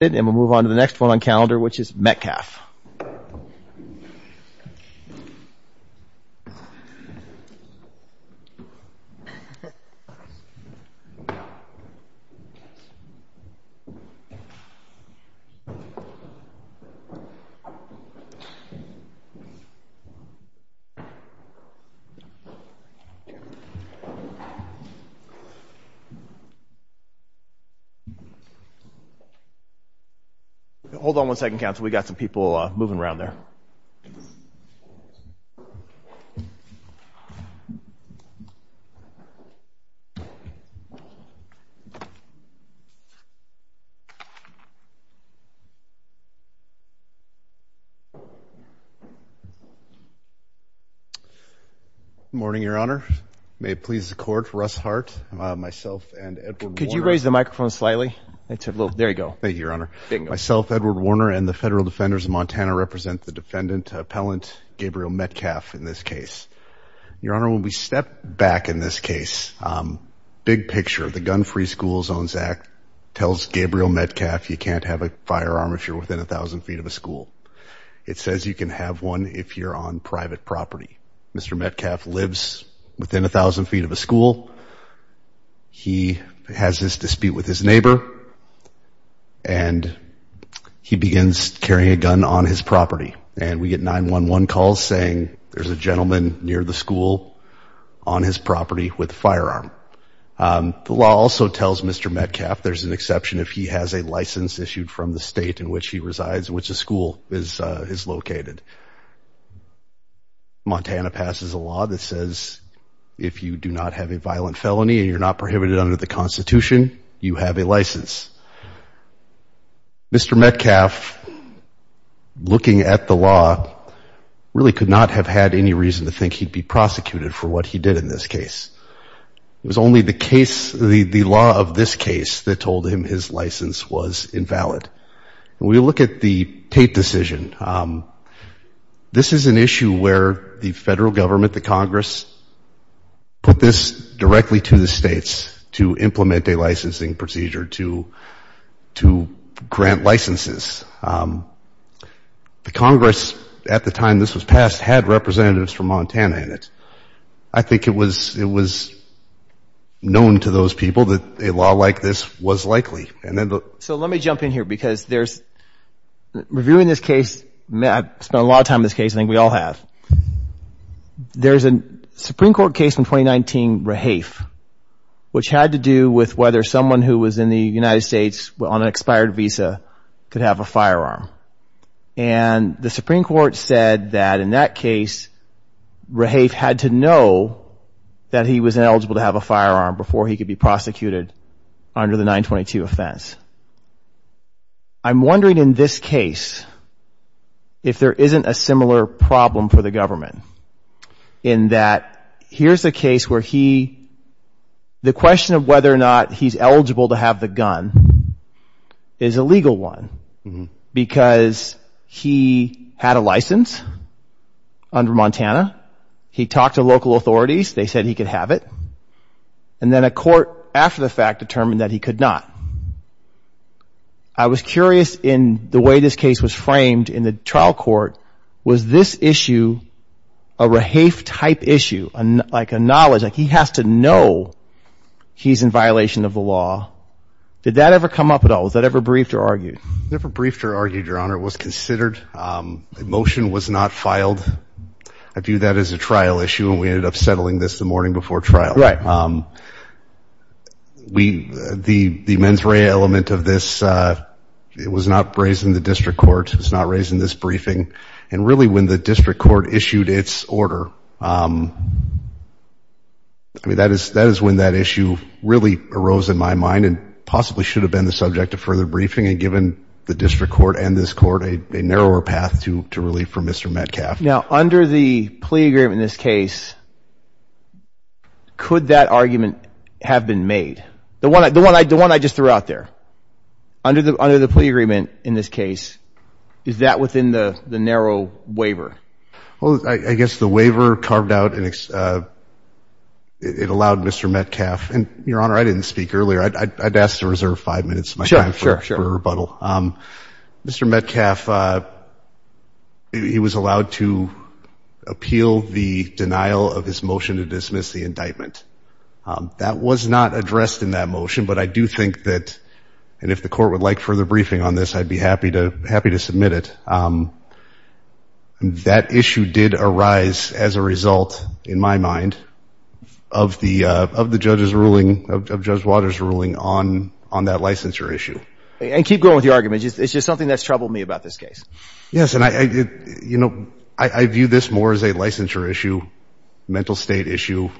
and move on to the next one calendar which is Metcalf hold on one second counsel we got some people moving around there morning your honor may it please the court Russ Hart myself and could you raise the microphone slightly it's a little there you go thank you your honor myself Edward Warner and the federal defenders of Montana represent the defendant appellant Gabriel Metcalf in this case your honor when we step back in this case big picture the gun-free school zones act tells Gabriel Metcalf you can't have a firearm if you're within a thousand feet of a school it says you can have one if you're on private property mr. Metcalf lives within a thousand feet of a school he has this dispute with his neighbor and he begins carrying a gun on his property and we get 9-1-1 calls saying there's a gentleman near the school on his property with firearm the law also tells mr. Metcalf there's an exception if he has a license issued from the state in which he resides in which the school is is located Montana passes a that says if you do not have a violent felony and you're not prohibited under the Constitution you have a license mr. Metcalf looking at the law really could not have had any reason to think he'd be prosecuted for what he did in this case it was only the case the the law of this case that told him his license was invalid and we look at the Tate decision this is an issue where the federal government the Congress put this directly to the states to implement a licensing procedure to to grant licenses the Congress at the time this was passed had representatives from Montana in it I think it was it was known to those people that a law like this was likely and then so let me jump in here because there's reviewing this case Matt spent a lot of time this case I think we all have there's a Supreme Court case in 2019 Rahaf which had to do with whether someone who was in the United States well on an expired visa could have a firearm and the Supreme Court said that in that case Rahaf had to know that he was eligible to have a firearm before he could be prosecuted under the 922 offense I'm wondering in this case if there isn't a similar problem for the government in that here's the case where he the question of whether or not he's eligible to have the gun is a legal one because he had a license under Montana he talked to local authorities they said he could have it and then a court after the fact determined that he could not I was curious in the way this case was framed in the trial court was this issue a Rahaf type issue and like a knowledge like he has to know he's in violation of the law did that ever come up at all is that ever briefed or argued never briefed or argued your honor was considered the motion was not filed I view that as a trial issue and we ended up settling this the morning before trial right we the the mens rea element of this it was not raised in the district court it's not raised in this briefing and really when the district court issued its order I mean that is that is when that issue really arose in my mind and possibly should have been the subject of further briefing and given the district court and this court a narrower path to to relief from mr. Metcalf now under the plea agreement in this case could that argument have been made the one I don't want I just threw out there under the under the plea agreement in this case is that within the the narrow waiver well I guess the waiver carved out and it allowed mr. Metcalf and your honor I didn't speak earlier I'd ask to reserve five minutes sure sure sure rebuttal mr. Metcalf he was allowed to appeal the denial of his motion to dismiss the indictment that was not addressed in that motion but I do think that and if the court would like further briefing on this I'd be happy to happy to submit it that issue did arise as a result in my mind of the judge's ruling of judge waters ruling on on that licensure issue and keep going with the argument it's just something that's troubled me about this case yes and I did you know I view this more as a licensure issue mental state issue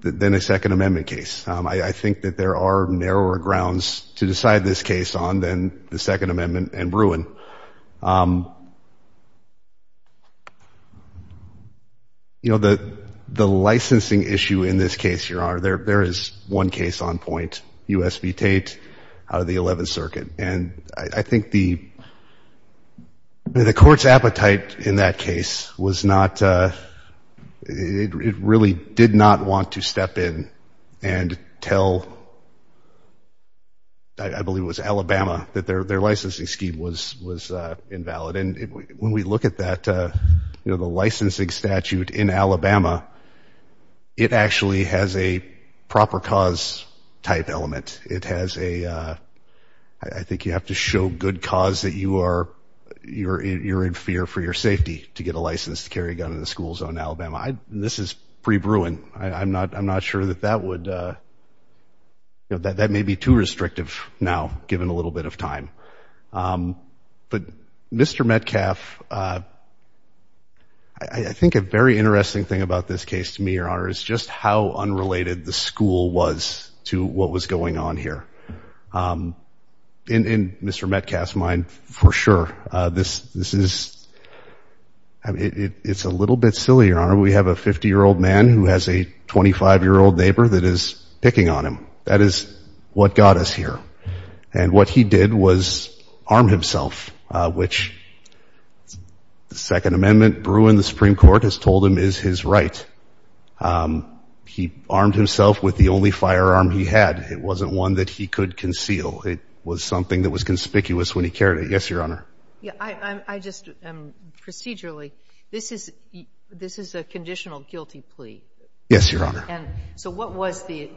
than a Second Amendment case I think that there are narrower grounds to decide this case on then the Second Amendment and Bruin you know that the licensing issue in this case here are there there is one case on point USB Tate out of the 11th Circuit and I think the the court's appetite in that case was not it really did not want to step in and tell I believe was Alabama that their their licensing scheme was was invalid and when we look at that you know the licensing statute in Alabama it actually has a proper cause type element it has a I think you have to show good cause that you are you're in fear for your safety to get a license to carry a gun in the school zone Alabama I this is pre Bruin I'm not I'm not sure that that would you know that that may be too restrictive now given a little bit of time but mr. Metcalf I think a very interesting thing about this case to me your honor is just how unrelated the school was to what was going on here in mr. Metcalf's mind for sure this this is it's a little bit silly your honor we have a 50 year old man who has a 25 year old neighbor that is picking on him that is what got us here and what he did was arm himself which the Second Amendment Bruin the Supreme Court has told him is his right he armed himself with the only firearm he had it wasn't one that he could conceal it was something that was conspicuous when he carried it yes your honor yeah I just procedurally this is this is a conditional guilty plea yes your honor so what was the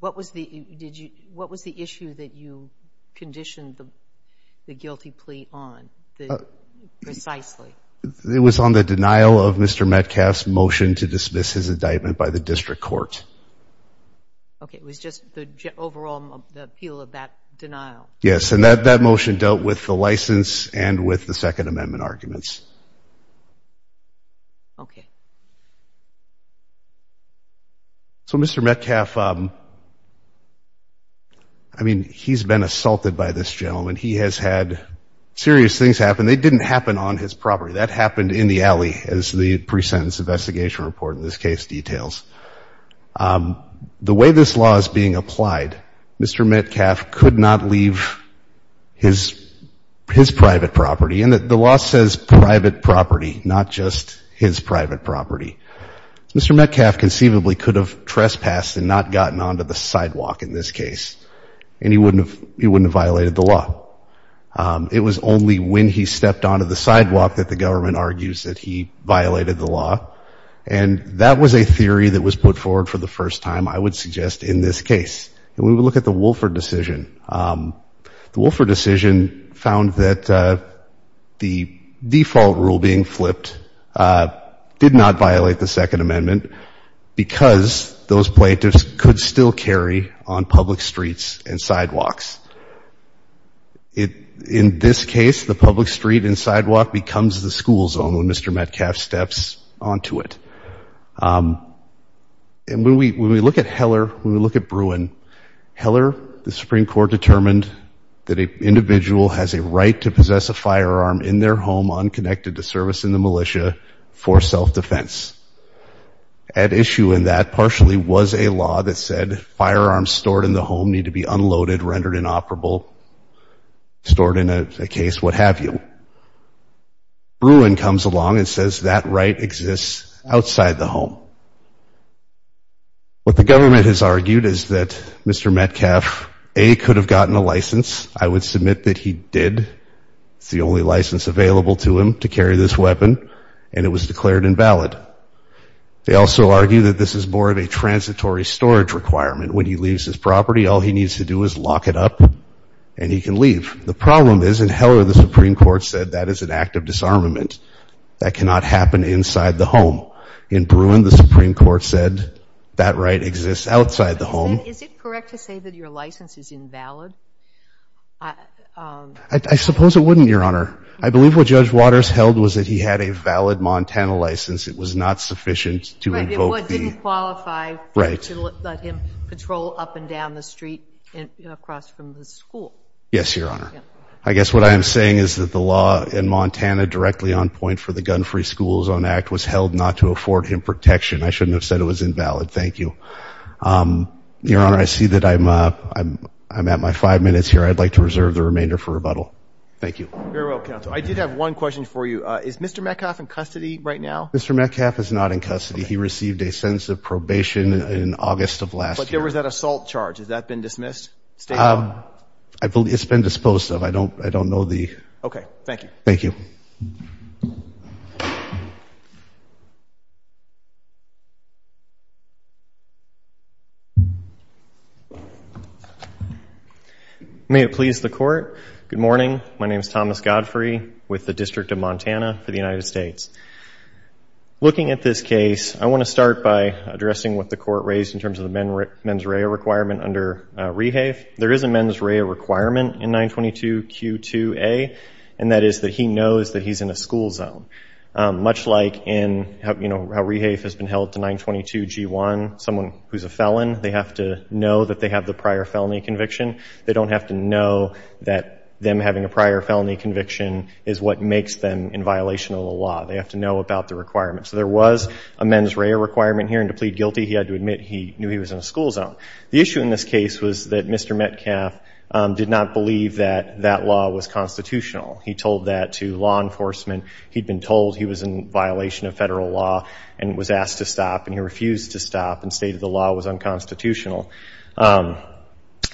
what was the did you what was the issue that you conditioned the guilty plea on precisely it was on the denial of mr. Metcalf's motion to dismiss his indictment by the district court okay it was just the overall appeal of that denial yes and that that motion dealt with the license and with the Second Amendment arguments okay so mr. Metcalf I mean he's been assaulted by this gentleman he has had serious things happen they didn't happen on his property that happened in the alley as the pre-sentence investigation report in this case details the way this law is being applied mr. Metcalf could not leave his his private property and that the law says private property not just his private property mr. Metcalf conceivably could have trespassed and not gotten onto the sidewalk in this case and he wouldn't have he wouldn't have violated the law it was only when he stepped onto the sidewalk that the government argues that he violated the law and that was a theory that was put forward for the first time I would suggest in this case and we would look at the Wolfer decision the Wolfer decision found that the default rule being flipped did not violate the Second Amendment because those plaintiffs could still carry on public streets and sidewalks it in this case the public street and sidewalk becomes the school zone when mr. Metcalf steps onto it and we look at Heller when we look at Bruin Heller the Supreme Court determined that a individual has a right to possess a firearm in their home unconnected to service in the militia for self-defense at issue in that partially was a law that said firearms stored in the home need to be unloaded rendered inoperable stored in a case what have you Bruin comes along and says that right exists outside the home what the government has argued is that mr. Metcalf a could have gotten a license I would submit that he did it's the only license available to him to carry this weapon and it was declared invalid they also argue that this is more of a transitory storage requirement when he leaves his property all he needs to do is lock it up and he can leave the problem is in Heller the Supreme Court said that is an act of disarmament that cannot happen inside the home in Bruin the Supreme Court said that right exists outside the home is it correct to say that your license is invalid I suppose it wouldn't your honor I believe what judge waters held was that he had a valid Montana license it was not sufficient to invoke qualify right let him patrol up and down the street and across from the school yes your honor I guess what I am saying is that the law in Montana directly on point for the gun-free schools on act was held not to afford him protection I shouldn't have said it was invalid thank you your honor I see that I'm I'm I'm at my five minutes here I'd like to reserve the remainder for rebuttal thank you I did have one question for you is mr. Metcalf in custody right now mr. Metcalf is not in custody he received a sense of probation in August of last year was that assault charge has that been dismissed I believe it's been disposed of I don't I don't know the okay thank you thank you may it please the court good morning my name is Thomas Godfrey with the District of Montana for the United States looking at this case I want to start by addressing what the court raised in terms of the men mens rea requirement under rehab there is a mens rea requirement in 922 q2 a and that is that he knows that he's in a school zone much like in you know how rehab has been held to 922 g1 someone who's a felon they have to know that they have the prior felony conviction they don't have to know that them having a prior felony conviction is what makes them in violation of the law they have to know about the requirement so there was a mens rea requirement here and to plead guilty he had to admit he knew he was in a school zone the issue in this case was that mr. Metcalf did not believe that that law was constitutional he told that to law enforcement he'd been told he was in violation of federal law and was asked to stop and he refused to stop and stated the law was unconstitutional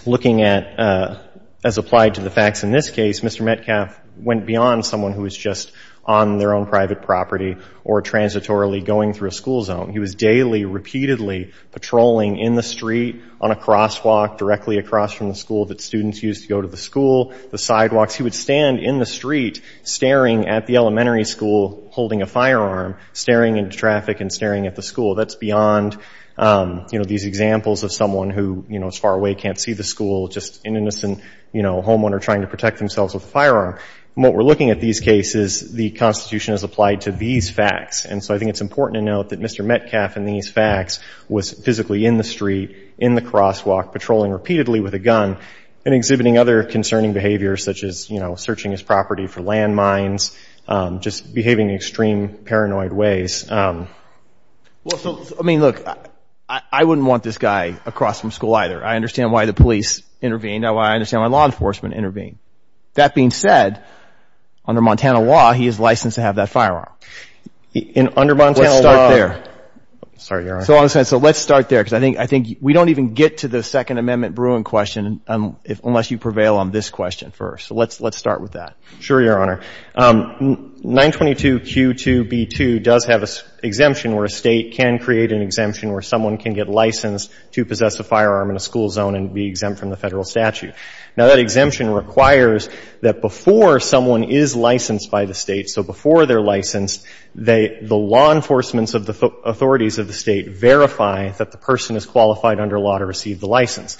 looking at as applied to the facts in this case mr. Metcalf went beyond someone who was just on their own private property or transitorily going through a school zone he was daily repeatedly patrolling in the street on a crosswalk directly across from the school that students used to go to the school the sidewalks he would stand in the street staring at the elementary school holding a firearm staring into traffic and staring at the school that's beyond you know these examples of someone who you know as far away can't see the school just an innocent you know homeowner trying to protect themselves with a firearm what we're looking at these cases the constitution is applied to these facts and so I think it's important to note that mr. Metcalf in these facts was physically in the street in the crosswalk patrolling repeatedly with a gun and exhibiting other concerning behaviors such as you know searching his property for landmines just behaving extreme paranoid ways I mean look I wouldn't want this guy across from school either I understand why the police intervened I why I understand my enforcement intervene that being said under Montana law he is licensed to have that firearm in under month there sorry so on the side so let's start there because I think I think we don't even get to the Second Amendment Bruin question if unless you prevail on this question first let's let's start with that sure your honor 922 q2 b2 does have a exemption where a state can create an exemption where someone can get licensed to possess a firearm in a school zone and be exempt from the federal statute now that exemption requires that before someone is licensed by the state so before they're licensed they the law enforcement's of the authorities of the state verify that the person is qualified under law to receive the license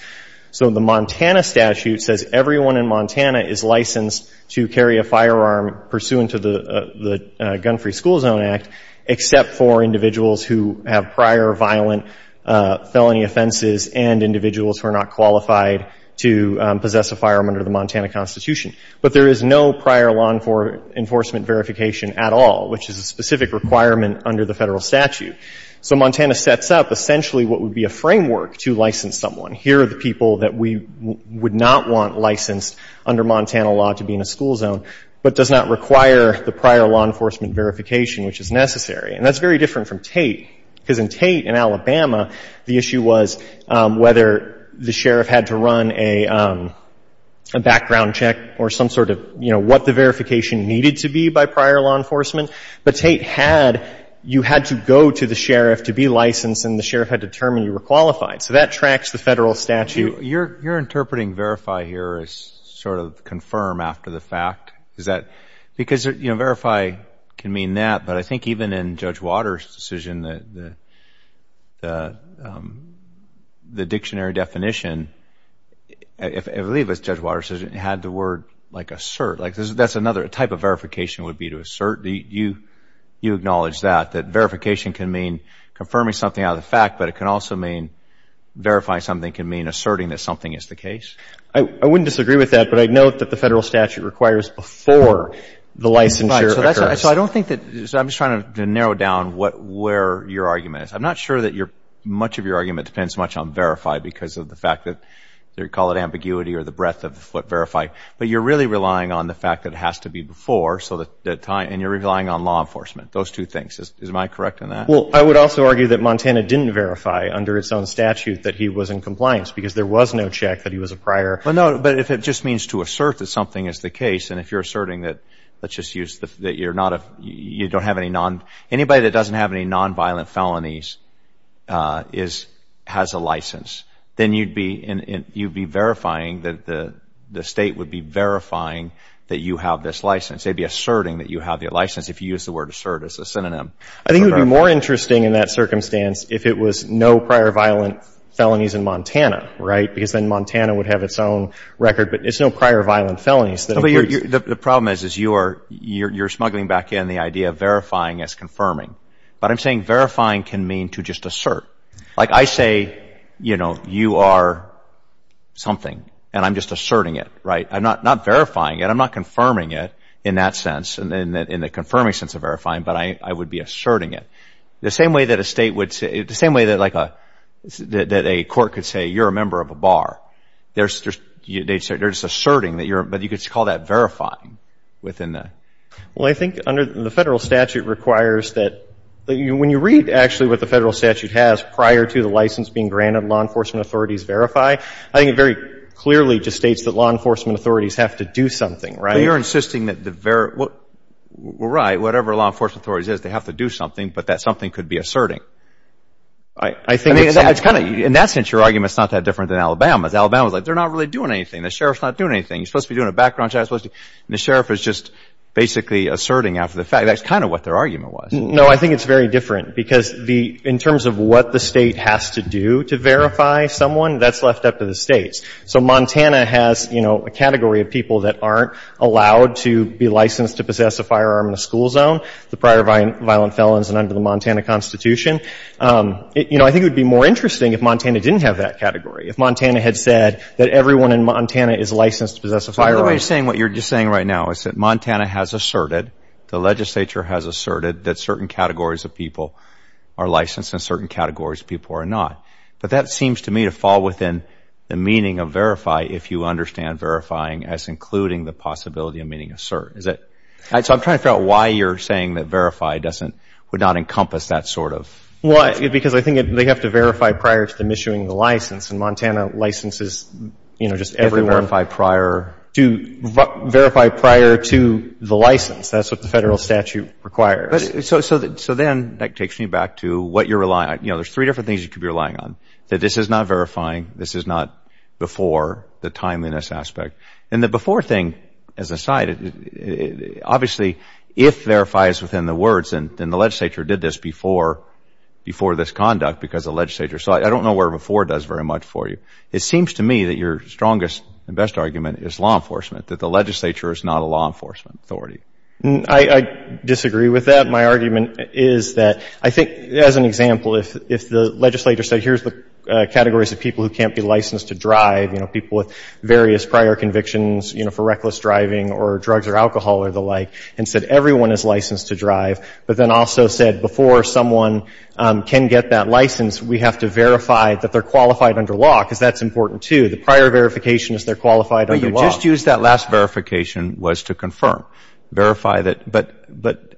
so the Montana statute says everyone in Montana is licensed to carry a firearm pursuant to the the gun-free school zone act except for individuals who have prior violent felony offenses and individuals who are not qualified to possess a firearm under the Montana Constitution but there is no prior long for enforcement verification at all which is a specific requirement under the federal statute so Montana sets up essentially what would be a framework to license someone here are the people that we would not want licensed under Montana law to be in a school zone but does not require the prior law enforcement verification which is necessary and that's very different from Tate because in Tate in Alabama the issue was whether the sheriff had to run a background check or some sort of you know what the verification needed to be by prior law enforcement but Tate had you had to go to the sheriff to be licensed and the sheriff had determined you were qualified so that tracks the federal statute you're you're interpreting verify here is sort of confirm after the fact is that because you know verify can mean that but I think even in Judge Waters decision that the the dictionary definition if I believe it's Judge Waters decision had the word like assert like this that's another type of verification would be to assert the you you acknowledge that that verification can mean confirming something out of the fact but it can also mean verify something can mean asserting that something is the case I wouldn't disagree with that but I'd note that the federal statute requires before the licensure so I don't think that I'm just trying to narrow down what where your argument is I'm not sure that you're much of your argument depends much on verify because of the fact that they call it ambiguity or the breadth of what verify but you're really relying on the fact that has to be before so that time and you're relying on law enforcement those two things is am I correct in that well I would also argue that Montana didn't verify under its own statute that he was in compliance because there was no check that he was a prior well no but if it just means to assert that something is the case and if you're asserting that let's just use that you're not a you don't have any non anybody that doesn't have any non-violent felonies is has a license then you'd be in you'd be verifying that the the state would be verifying that you have this license they'd be asserting that you have your license if you use the word assert as a synonym I think it would be more interesting in that circumstance if it was no prior violent felonies in Montana right because then Montana would have its own record but it's no prior violent felonies that the problem is is you are you're smuggling back in the idea of verifying as confirming but I'm saying verifying can mean to just assert like I say you know you are something and I'm just asserting it right I'm not not verifying it I'm not confirming it in that sense and then in the confirming sense of verifying but I would be asserting it the same way that a state would say the same way that like a that a court could say you're a member of a bar there's they're just asserting that you're but you could call that verifying within that well I think under the federal statute requires that you when you read actually what the federal statute has prior to the license being granted law enforcement authorities verify I think it very clearly just states that law enforcement authorities have to do something right you're insisting that the very well right whatever law enforcement authorities is they have to do something but that something could be asserting I think it's kind of in that sense your argument it's not that different than Alabama's Alabama's like they're not really doing anything the sheriff's not doing anything you supposed to be doing a background check supposed to the sheriff is just basically asserting after the fact that's kind of what their argument was no I think it's very different because the in terms of what the state has to do to verify someone that's left up to the states so Montana has you know a category of people that aren't allowed to be licensed to possess a firearm in a school zone the prior violent felons and under the Montana Constitution you know I think it would be more interesting if Montana didn't have that category if Montana had said that everyone in Montana is licensed to possess a firearm you're saying what you're just saying right now is that Montana has asserted the legislature has asserted that certain categories of people are licensed in certain categories people are not but that seems to me to fall within the meaning of verify if you understand verifying as including the possibility of meaning assert is it so I'm trying to figure out why you're saying that verify doesn't would not encompass that sort of why because I think they have to verify prior to them issuing the license and Montana licenses you know just every verify prior to verify prior to the license that's what the federal statute requires so that so then that takes me back to what you're relying on you know there's three different things you could be relying on that this is not verifying this is not before the timeliness aspect and the before thing as a side obviously if verify is within the words and in the conduct because the legislature so I don't know where before does very much for you it seems to me that your strongest and best argument is law enforcement that the legislature is not a law enforcement authority I disagree with that my argument is that I think as an example if the legislature said here's the categories of people who can't be licensed to drive you know people with various prior convictions you know for reckless driving or drugs or alcohol or the like and said everyone is licensed to drive but then also said before someone can get that license we have to verify that they're qualified under law because that's important to the prior verification is they're qualified only just use that last verification was to confirm verify that but but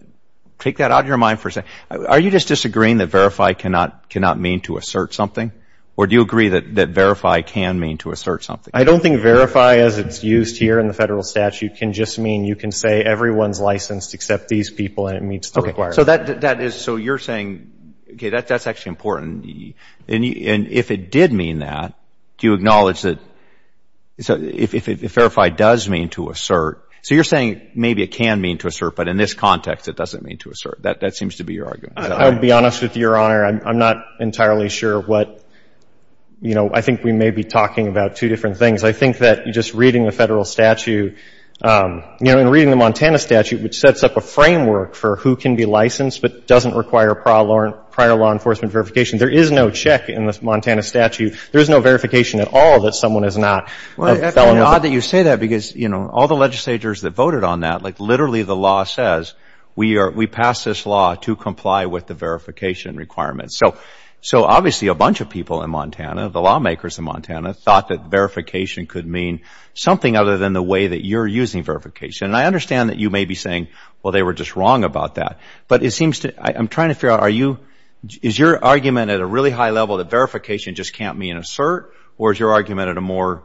take that out of your mind for a second are you just disagreeing that verify cannot cannot mean to assert something or do you agree that that verify can mean to assert something I don't think verify as it's used here in the federal statute can just mean you can say everyone's licensed except these people and it means to require so that that is so you're saying okay that's that's actually important and if it did mean that do you acknowledge that so if it verified does mean to assert so you're saying maybe it can mean to assert but in this context it doesn't mean to assert that that seems to be your argument I would be honest with your honor I'm not entirely sure what you know I think we may be talking about two different things I think that you just reading the federal statute you know in reading the Montana statute which sets up a framework for who can be licensed but doesn't require prior law enforcement verification there is no check in this Montana statute there's no verification at all that someone is not well not that you say that because you know all the legislators that voted on that like literally the law says we are we pass this law to comply with the verification requirements so so obviously a bunch of people in Montana the lawmakers in Montana thought that verification could mean something other than the way that you're using verification and I understand that you may be saying well they were just wrong about that but it seems to I'm trying to figure out are you is your argument at a really high level that verification just can't mean assert or is your argument at a more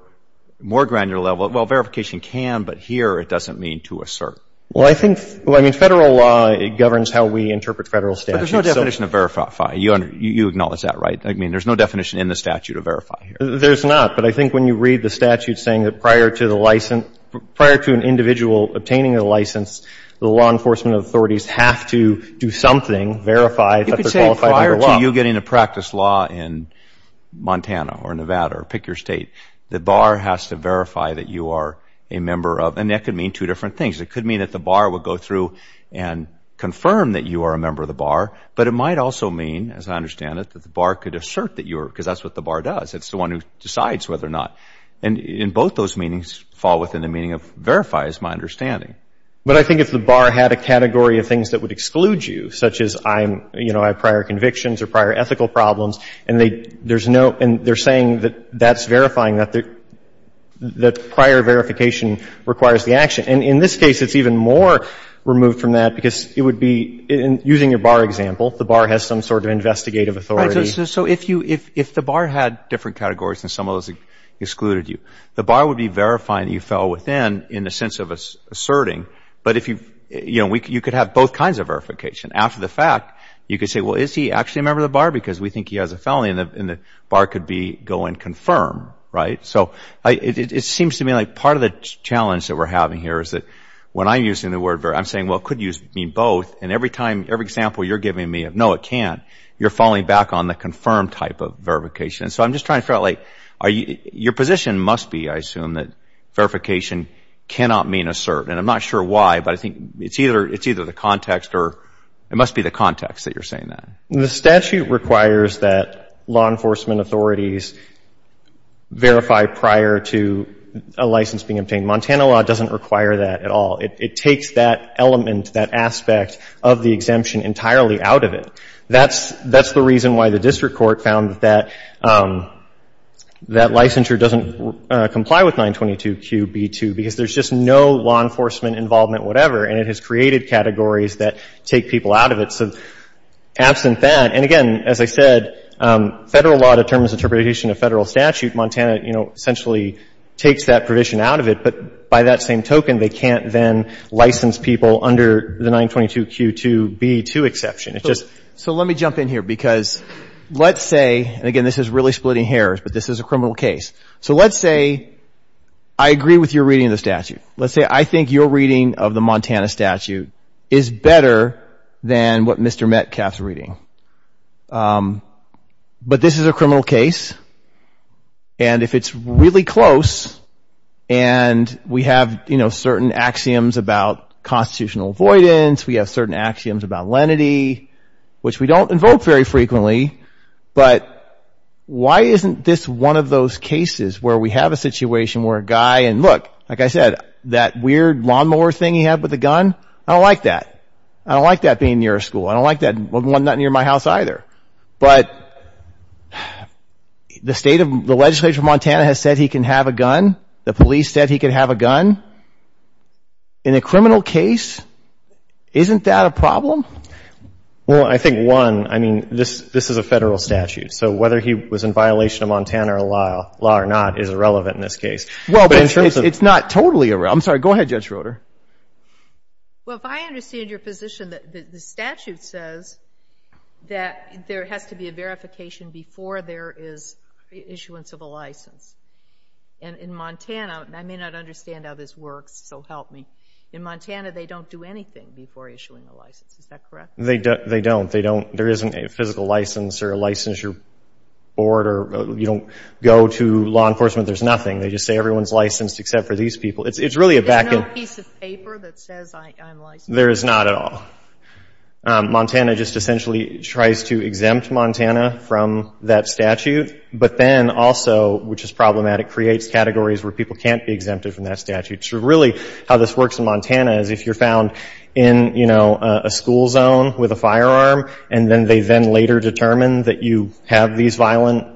more granular level well verification can but here it doesn't mean to assert well I think well I mean federal law it governs how we interpret federal statute there's no definition of verify you and you acknowledge that right I mean there's no definition in the statute of verify here there's not but I think when you read the statute saying that prior to the license prior to an individual obtaining a license the law enforcement authorities have to do something verify you could say prior to you getting to practice law in Montana or Nevada or pick your state the bar has to verify that you are a member of and that could mean two different things it could mean that the bar would go through and confirm that you are a member of the bar but it might also mean as I understand it that the bar could assert that you're because that's what the bar does it's the one who decides whether or not and in both those meanings fall within the meaning of verify is my understanding but I think if the bar had a category of things that would exclude you such as I'm you know I prior convictions or prior ethical problems and they there's no and they're saying that that's verifying that the the prior verification requires the action and in this case it's even more removed from that because it would be in using your bar example the bar has some sort of investigative authority so if you if if the bar had different categories and some of those excluded you the bar would be verifying that you fell within in the sense of us asserting but if you you know we could you could have both kinds of verification after the fact you could say well is he actually a member of the bar because we think he has a felony in the in the bar could be go and confirm right so it seems to me like part of the challenge that we're having here is that when I'm using the word where I'm saying well could use mean both and every time every example you're giving me of no it can't you're falling back on the confirmed type of verification so I'm trying to like are you your position must be I assume that verification cannot mean assert and I'm not sure why but I think it's either it's either the context or it must be the context that you're saying that the statute requires that law enforcement authorities verify prior to a license being obtained Montana law doesn't require that at all it takes that element that aspect of the exemption entirely out of it that's that's the reason why the district court found that that licensure doesn't comply with 922 QB to because there's just no law enforcement involvement whatever and it has created categories that take people out of it so absent that and again as I said federal law determines interpretation of federal statute Montana you know essentially takes that provision out of it but by that same token they can't then license people under the 922 Q to be to exception it just so let me jump in here because let's say and again this is really splitting hairs but this is a criminal case so let's say I agree with your reading of the statute let's say I think your reading of the Montana statute is better than what mr. Metcalf is reading but this is a criminal case and if it's really close and we have you know certain axioms about constitutional avoidance we have certain axioms about which we don't invoke very frequently but why isn't this one of those cases where we have a situation where a guy and look like I said that weird lawnmower thing he had with the gun I don't like that I don't like that being near a school I don't like that one not near my house either but the state of the legislature Montana has said he can have a gun the police said he could have a gun in a criminal case isn't that a problem well I think one I mean this this is a federal statute so whether he was in violation of Montana or law law or not is irrelevant in this case well but it's not totally around sorry go ahead judge Roder well if I understand your position that the statute says that there has to be a verification before there is issuance of a license and in I may not understand how this works so help me in Montana they don't do anything before issuing a license is that correct they don't they don't they don't there isn't a physical license or a licensure order you don't go to law enforcement there's nothing they just say everyone's licensed except for these people it's it's really a back there is not at all Montana just essentially tries to exempt Montana from that statute but then also which is problematic creates categories where people can't be exempted from that statute so really how this works in Montana is if you're found in you know a school zone with a firearm and then they then later determine that you have these violent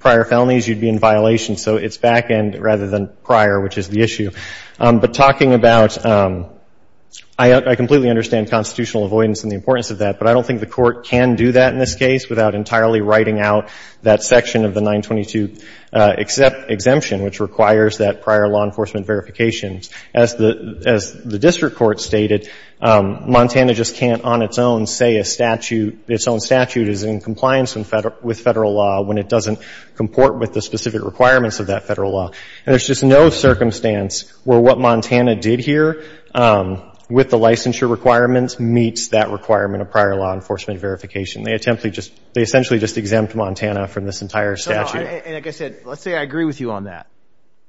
prior felonies you'd be in violation so it's back end rather than prior which is the issue but talking about I completely understand constitutional avoidance and the importance of that but I don't think the court can do that in this case without entirely writing out that section of the 922 except exemption which requires that prior law enforcement verifications as the as the district court stated Montana just can't on its own say a statute its own statute is in compliance and federal with federal law when it doesn't comport with the specific requirements of that federal law there's just no circumstance where what Montana did here with the licensure requirements meets that requirement of prior law enforcement verification they attempt to just they essentially just exempt Montana from this entire statute let's say I agree with you on that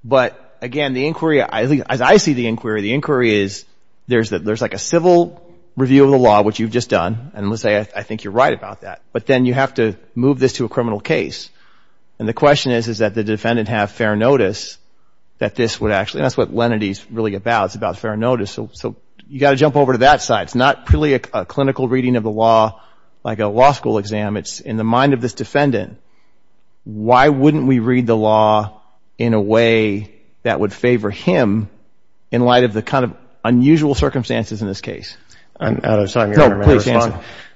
but again the inquiry I think as I see the inquiry the inquiry is there's that there's like a civil review of the law which you've just done and let's say I think you're right about that but then you have to move this to a criminal case and the question is is that the defendant have fair notice that this would actually that's what Lenity's really about it's about fair notice so you got to jump over to that side it's not purely a clinical reading of the law like a law school exam it's in the mind of this defendant why wouldn't we read the law in a way that would favor him in light of the kind of unusual circumstances in this case I'm out of time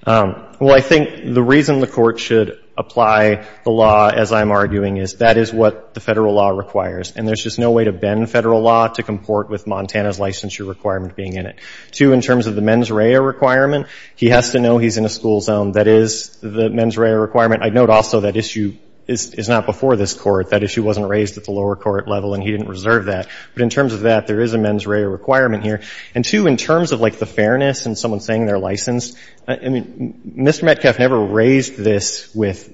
well I think the reason the court should apply the law as I'm arguing is that is what the federal law requires and there's just no way to bend federal law to comport with Montana's licensure requirement being in it to in terms of the mens rea requirement he has to know he's in a school zone that is the mens rea requirement I'd note also that issue is not before this court that issue wasn't raised at the lower court level and he didn't reserve that but in terms of that there is a mens rea requirement here and two in terms of like the fairness and someone saying they're licensed I mean mr. Metcalf never raised this with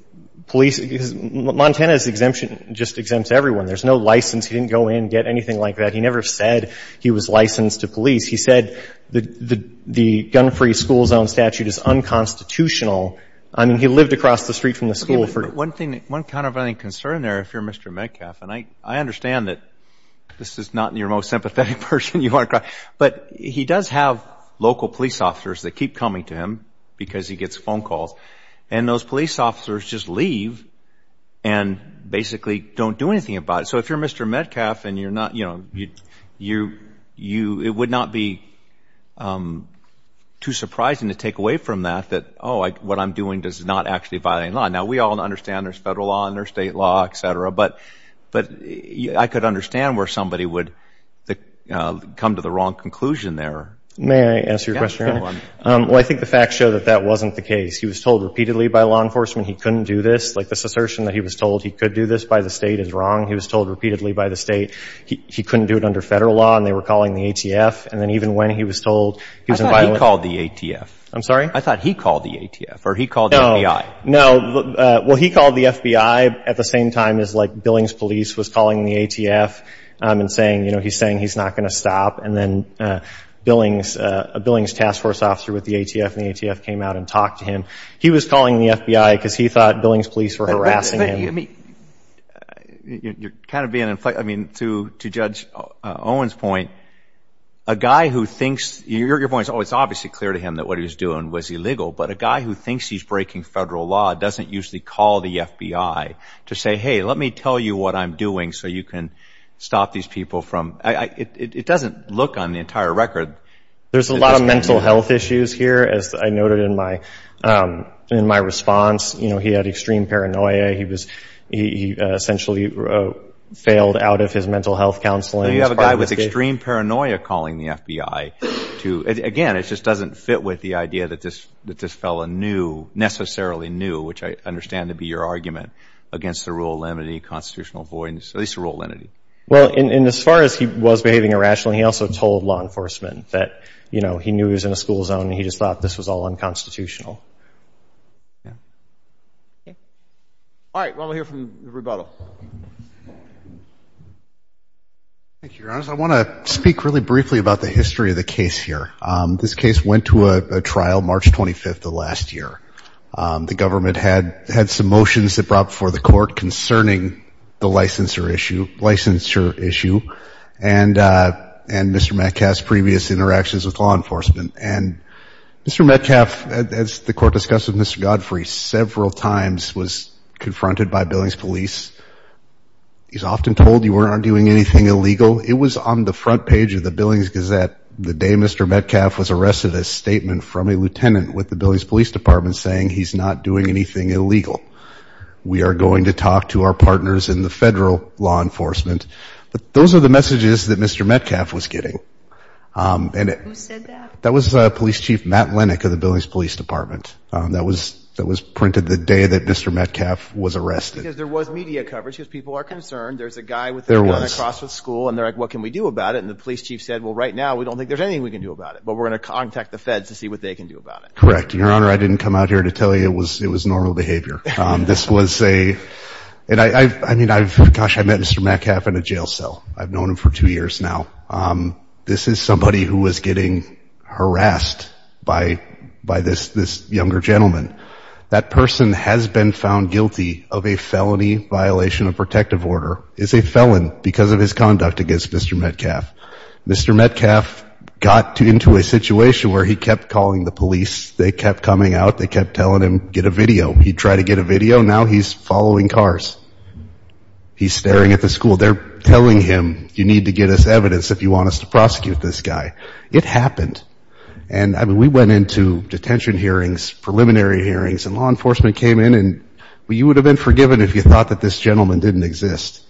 police Montana's exemption just exempts everyone there's no license he didn't go in get anything like that he never said he was licensed to police he said the the gun-free school zone statute is unconstitutional I mean he lived across the street from the school for one thing one kind of any concern there if you're mr. Metcalf and I I understand that this is not in your most sympathetic person you are but he does have local police officers that keep coming to him because he gets phone calls and those police officers just leave and basically don't do anything about it so if you're mr. Metcalf and you're not you know you you you it would not be too surprising to take away from that that oh I what I'm doing does not actually violate law now we all understand there's federal law under state law etc but but I could understand where somebody would come to the wrong conclusion there may I answer your question well I think the facts show that that wasn't the case he was told repeatedly by law enforcement he couldn't do this like this assertion that he was told he could do this by the state is wrong he was told repeatedly by the state he couldn't do it under federal law and they were calling the ATF and then even when he was told he was invited called the ATF I'm sorry I thought he called the ATF or he called no no well he called the FBI at the same time as like Billings police was calling the ATF and saying you know he's saying he's not gonna stop and then Billings a Billings task force officer with the ATF and the ATF came out and talked to him he was calling the FBI because he thought Billings police were harassing me you're kind of being in flight I mean to to judge Owens point a guy who thinks your your voice oh it's obviously clear to him that what he was doing was illegal but a guy who thinks he's breaking federal law doesn't usually call the FBI to say hey let me tell you what I'm doing so you can stop these people from I it doesn't look on the entire record there's a lot of mental health issues here as I noted in my in my response you know he had extreme paranoia he was he essentially failed out of his mental health counseling you have a guy with extreme paranoia calling the FBI to again it just doesn't fit with the idea that this that this fella knew necessarily knew which I understand to be your argument against the rule limiting constitutional avoidance at least a rule entity well in as far as he was behaving irrationally he also told law enforcement that you know he knew he was in a school zone he just thought this was all unconstitutional I want to speak really briefly about the history of the case here this case went to a trial March 25th the last year the government had had some motions that brought before the court concerning the licensure issue licensure issue and and Mr. Metcalfe's previous interactions with law enforcement and Mr. Metcalfe as the court discussed with Mr. Godfrey several times was confronted by Billings police he's often told you weren't doing anything illegal it was on the front page of the Billings Gazette the day Mr. Metcalfe was arrested a statement from a lieutenant with the Billings Police Department saying he's not doing anything illegal we are going to talk to our partners in the federal law those are the messages that Mr. Metcalfe was getting that was police chief Matt Lennick of the Billings Police Department that was that was printed the day that Mr. Metcalfe was arrested there was media coverage because people are concerned there's a guy with their cross with school and they're like what can we do about it and the police chief said well right now we don't think there's anything we can do about it but we're gonna contact the feds to see what they can do about it correct your honor I didn't come out here to tell you it was normal behavior this was a and I mean I've gosh I met Mr. Metcalfe in a jail cell I've known him for two years now this is somebody who was getting harassed by by this this younger gentleman that person has been found guilty of a felony violation of protective order is a felon because of his conduct against Mr. Metcalfe Mr. Metcalfe got to into a situation where he kept calling the police they kept coming out they kept telling him get a video he tried to get a video now he's following cars he's staring at the school they're telling him you need to get us evidence if you want us to prosecute this guy it happened and I mean we went into detention hearings preliminary hearings and law enforcement came in and well you would have been forgiven if you thought that this gentleman didn't exist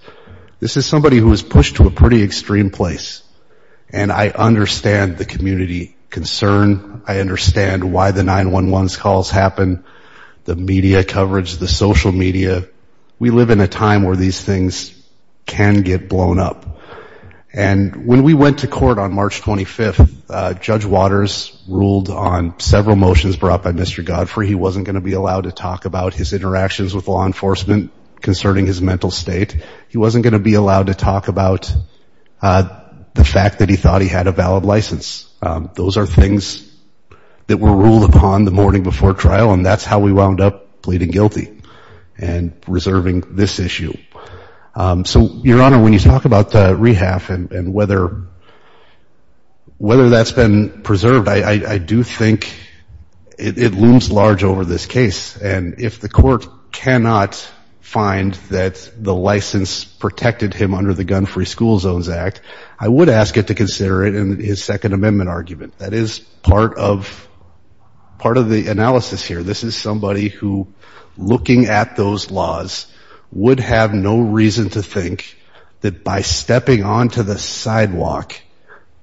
this is somebody who was pushed to a pretty extreme place and I understand the concern I understand why the 911 calls happen the media coverage the social media we live in a time where these things can get blown up and when we went to court on March 25th Judge Waters ruled on several motions brought by Mr. Godfrey he wasn't going to be allowed to talk about his interactions with law enforcement concerning his mental state he wasn't going to be allowed to talk about the fact that he thought he had a valid license those are things that were ruled upon the morning before trial and that's how we wound up pleading guilty and reserving this issue so your honor when you talk about the rehab and whether whether that's been preserved I I do think it looms large over this case and if the court cannot find that the license protected him under the gun free school zones act I would ask it to consider it in his Second Amendment argument that is part of part of the analysis here this is somebody who looking at those laws would have no reason to think that by stepping onto the sidewalk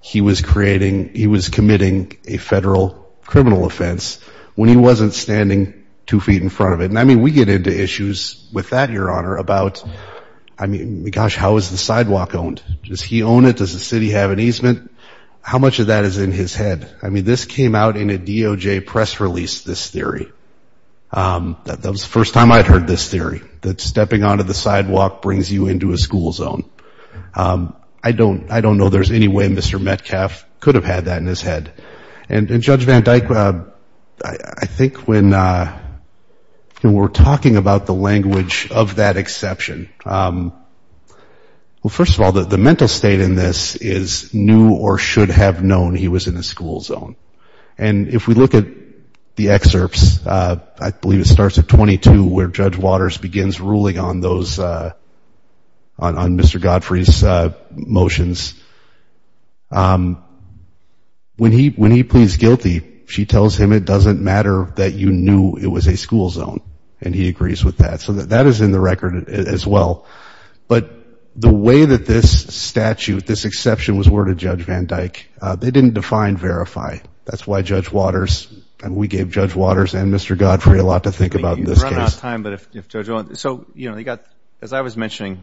he was creating he was committing a federal criminal offense when he wasn't standing two feet in front of it and I mean we get into issues with that your honor about I mean gosh how is the sidewalk owned does he own it does the city have an easement how much of that is in his head I mean this came out in a DOJ press release this theory that was the first time I heard this theory that stepping onto the sidewalk brings you into a school zone I don't I don't know there's any way mr. Metcalf could have had that in his head and judge van Dyck I think when we're talking about the language of that exception well first of all that the mental state in this is new or should have known he was in a school zone and if we look at the excerpts I believe it starts at 22 where judge waters begins ruling on those on mr. Godfrey's motions when he when he pleads guilty she tells him it doesn't matter that you knew it was a school zone and he agrees with that so that that is in the record as well but the way that this statute this exception was worded judge van Dyck they didn't define verify that's why judge waters and we gave judge waters and mr. Godfrey a lot to think about this time but if so you know you got as I was mentioning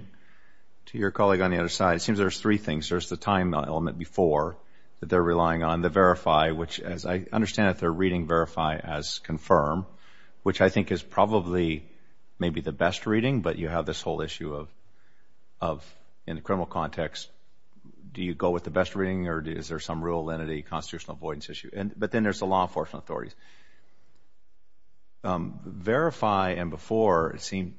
to your colleague on the other side it seems there's three things there's the time element before that they're relying on the verify which as I understand that they're reading verify as confirm which I think is probably maybe the best reading but you have this whole issue of of in the criminal context do you go with the best reading or is there some real entity constitutional avoidance issue and but then there's the law enforcement authorities verify and before it seemed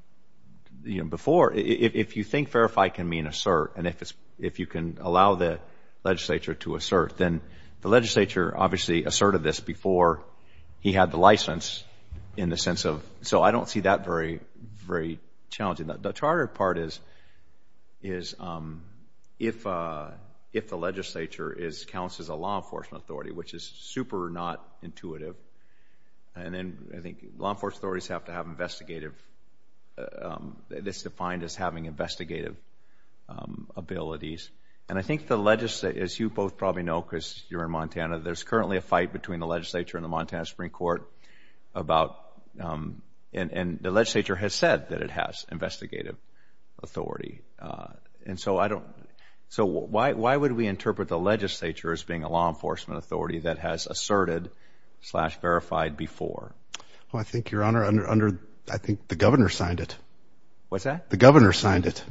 you know before if you think verify can mean assert and if it's if you can allow the legislature to assert then the legislature obviously asserted this before he had the license in the sense of so I don't see that very very challenging that the charter part is is if if the legislature is counts as a law enforcement authority which is super not intuitive and then I think law enforcement authorities have to have investigative this defined as having investigative abilities and I think the legacy as you both probably know Chris you're in Montana there's currently a fight between the legislature and the Montana Supreme Court about and and the legislature has said that it has investigative authority and so I don't so why would we interpret the legislature as being a law enforcement authority that has asserted slash verified before well I think your honor under I think the governor signed it what's that the governor signed it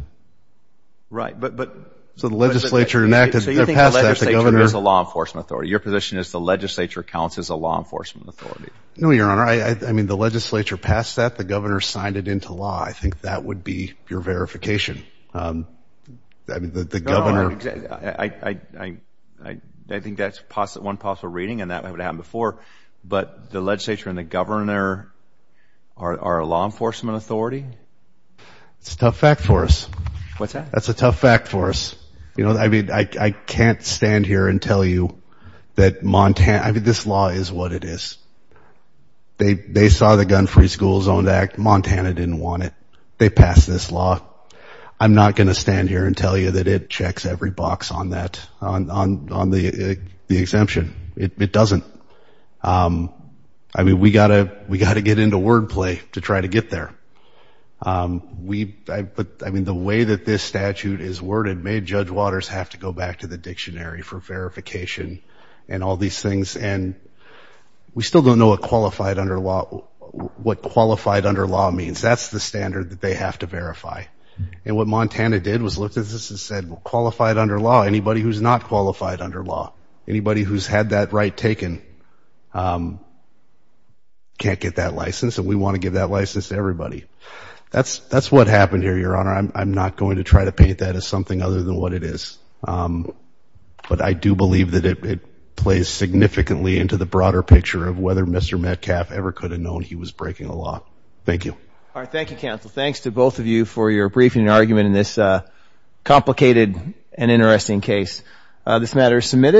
right but but so the legislature enacted as a law enforcement authority your position is the legislature counts as a law enforcement authority no your honor I mean the legislature passed that the governor signed it into law I think that would be your verification I think that's possible one possible reading and but the legislature and the governor are a law enforcement authority it's a tough fact for us what's that that's a tough fact for us you know I mean I can't stand here and tell you that Montana this law is what it is they they saw the gun free schools on that Montana didn't want it they passed this law I'm not gonna stand here and tell you that it checks every box on that on the exemption it doesn't I mean we got a we got to get into wordplay to try to get there we but I mean the way that this statute is worded made Judge Waters have to go back to the dictionary for verification and all these things and we still don't know a qualified under law what qualified under law means that's the standard that they have to verify and what Montana did was look at this and said qualified under law anybody who's not qualified under law anybody who's had that right taken can't get that license and we want to give that license to everybody that's that's what happened here your honor I'm not going to try to paint that as something other than what it is but I do believe that it plays significantly into the broader picture of whether mr. Metcalfe ever could have known he was breaking a law thank you all right thank you counsel thanks to both of you for your briefing argument in this complicated and interesting case this matter is submitted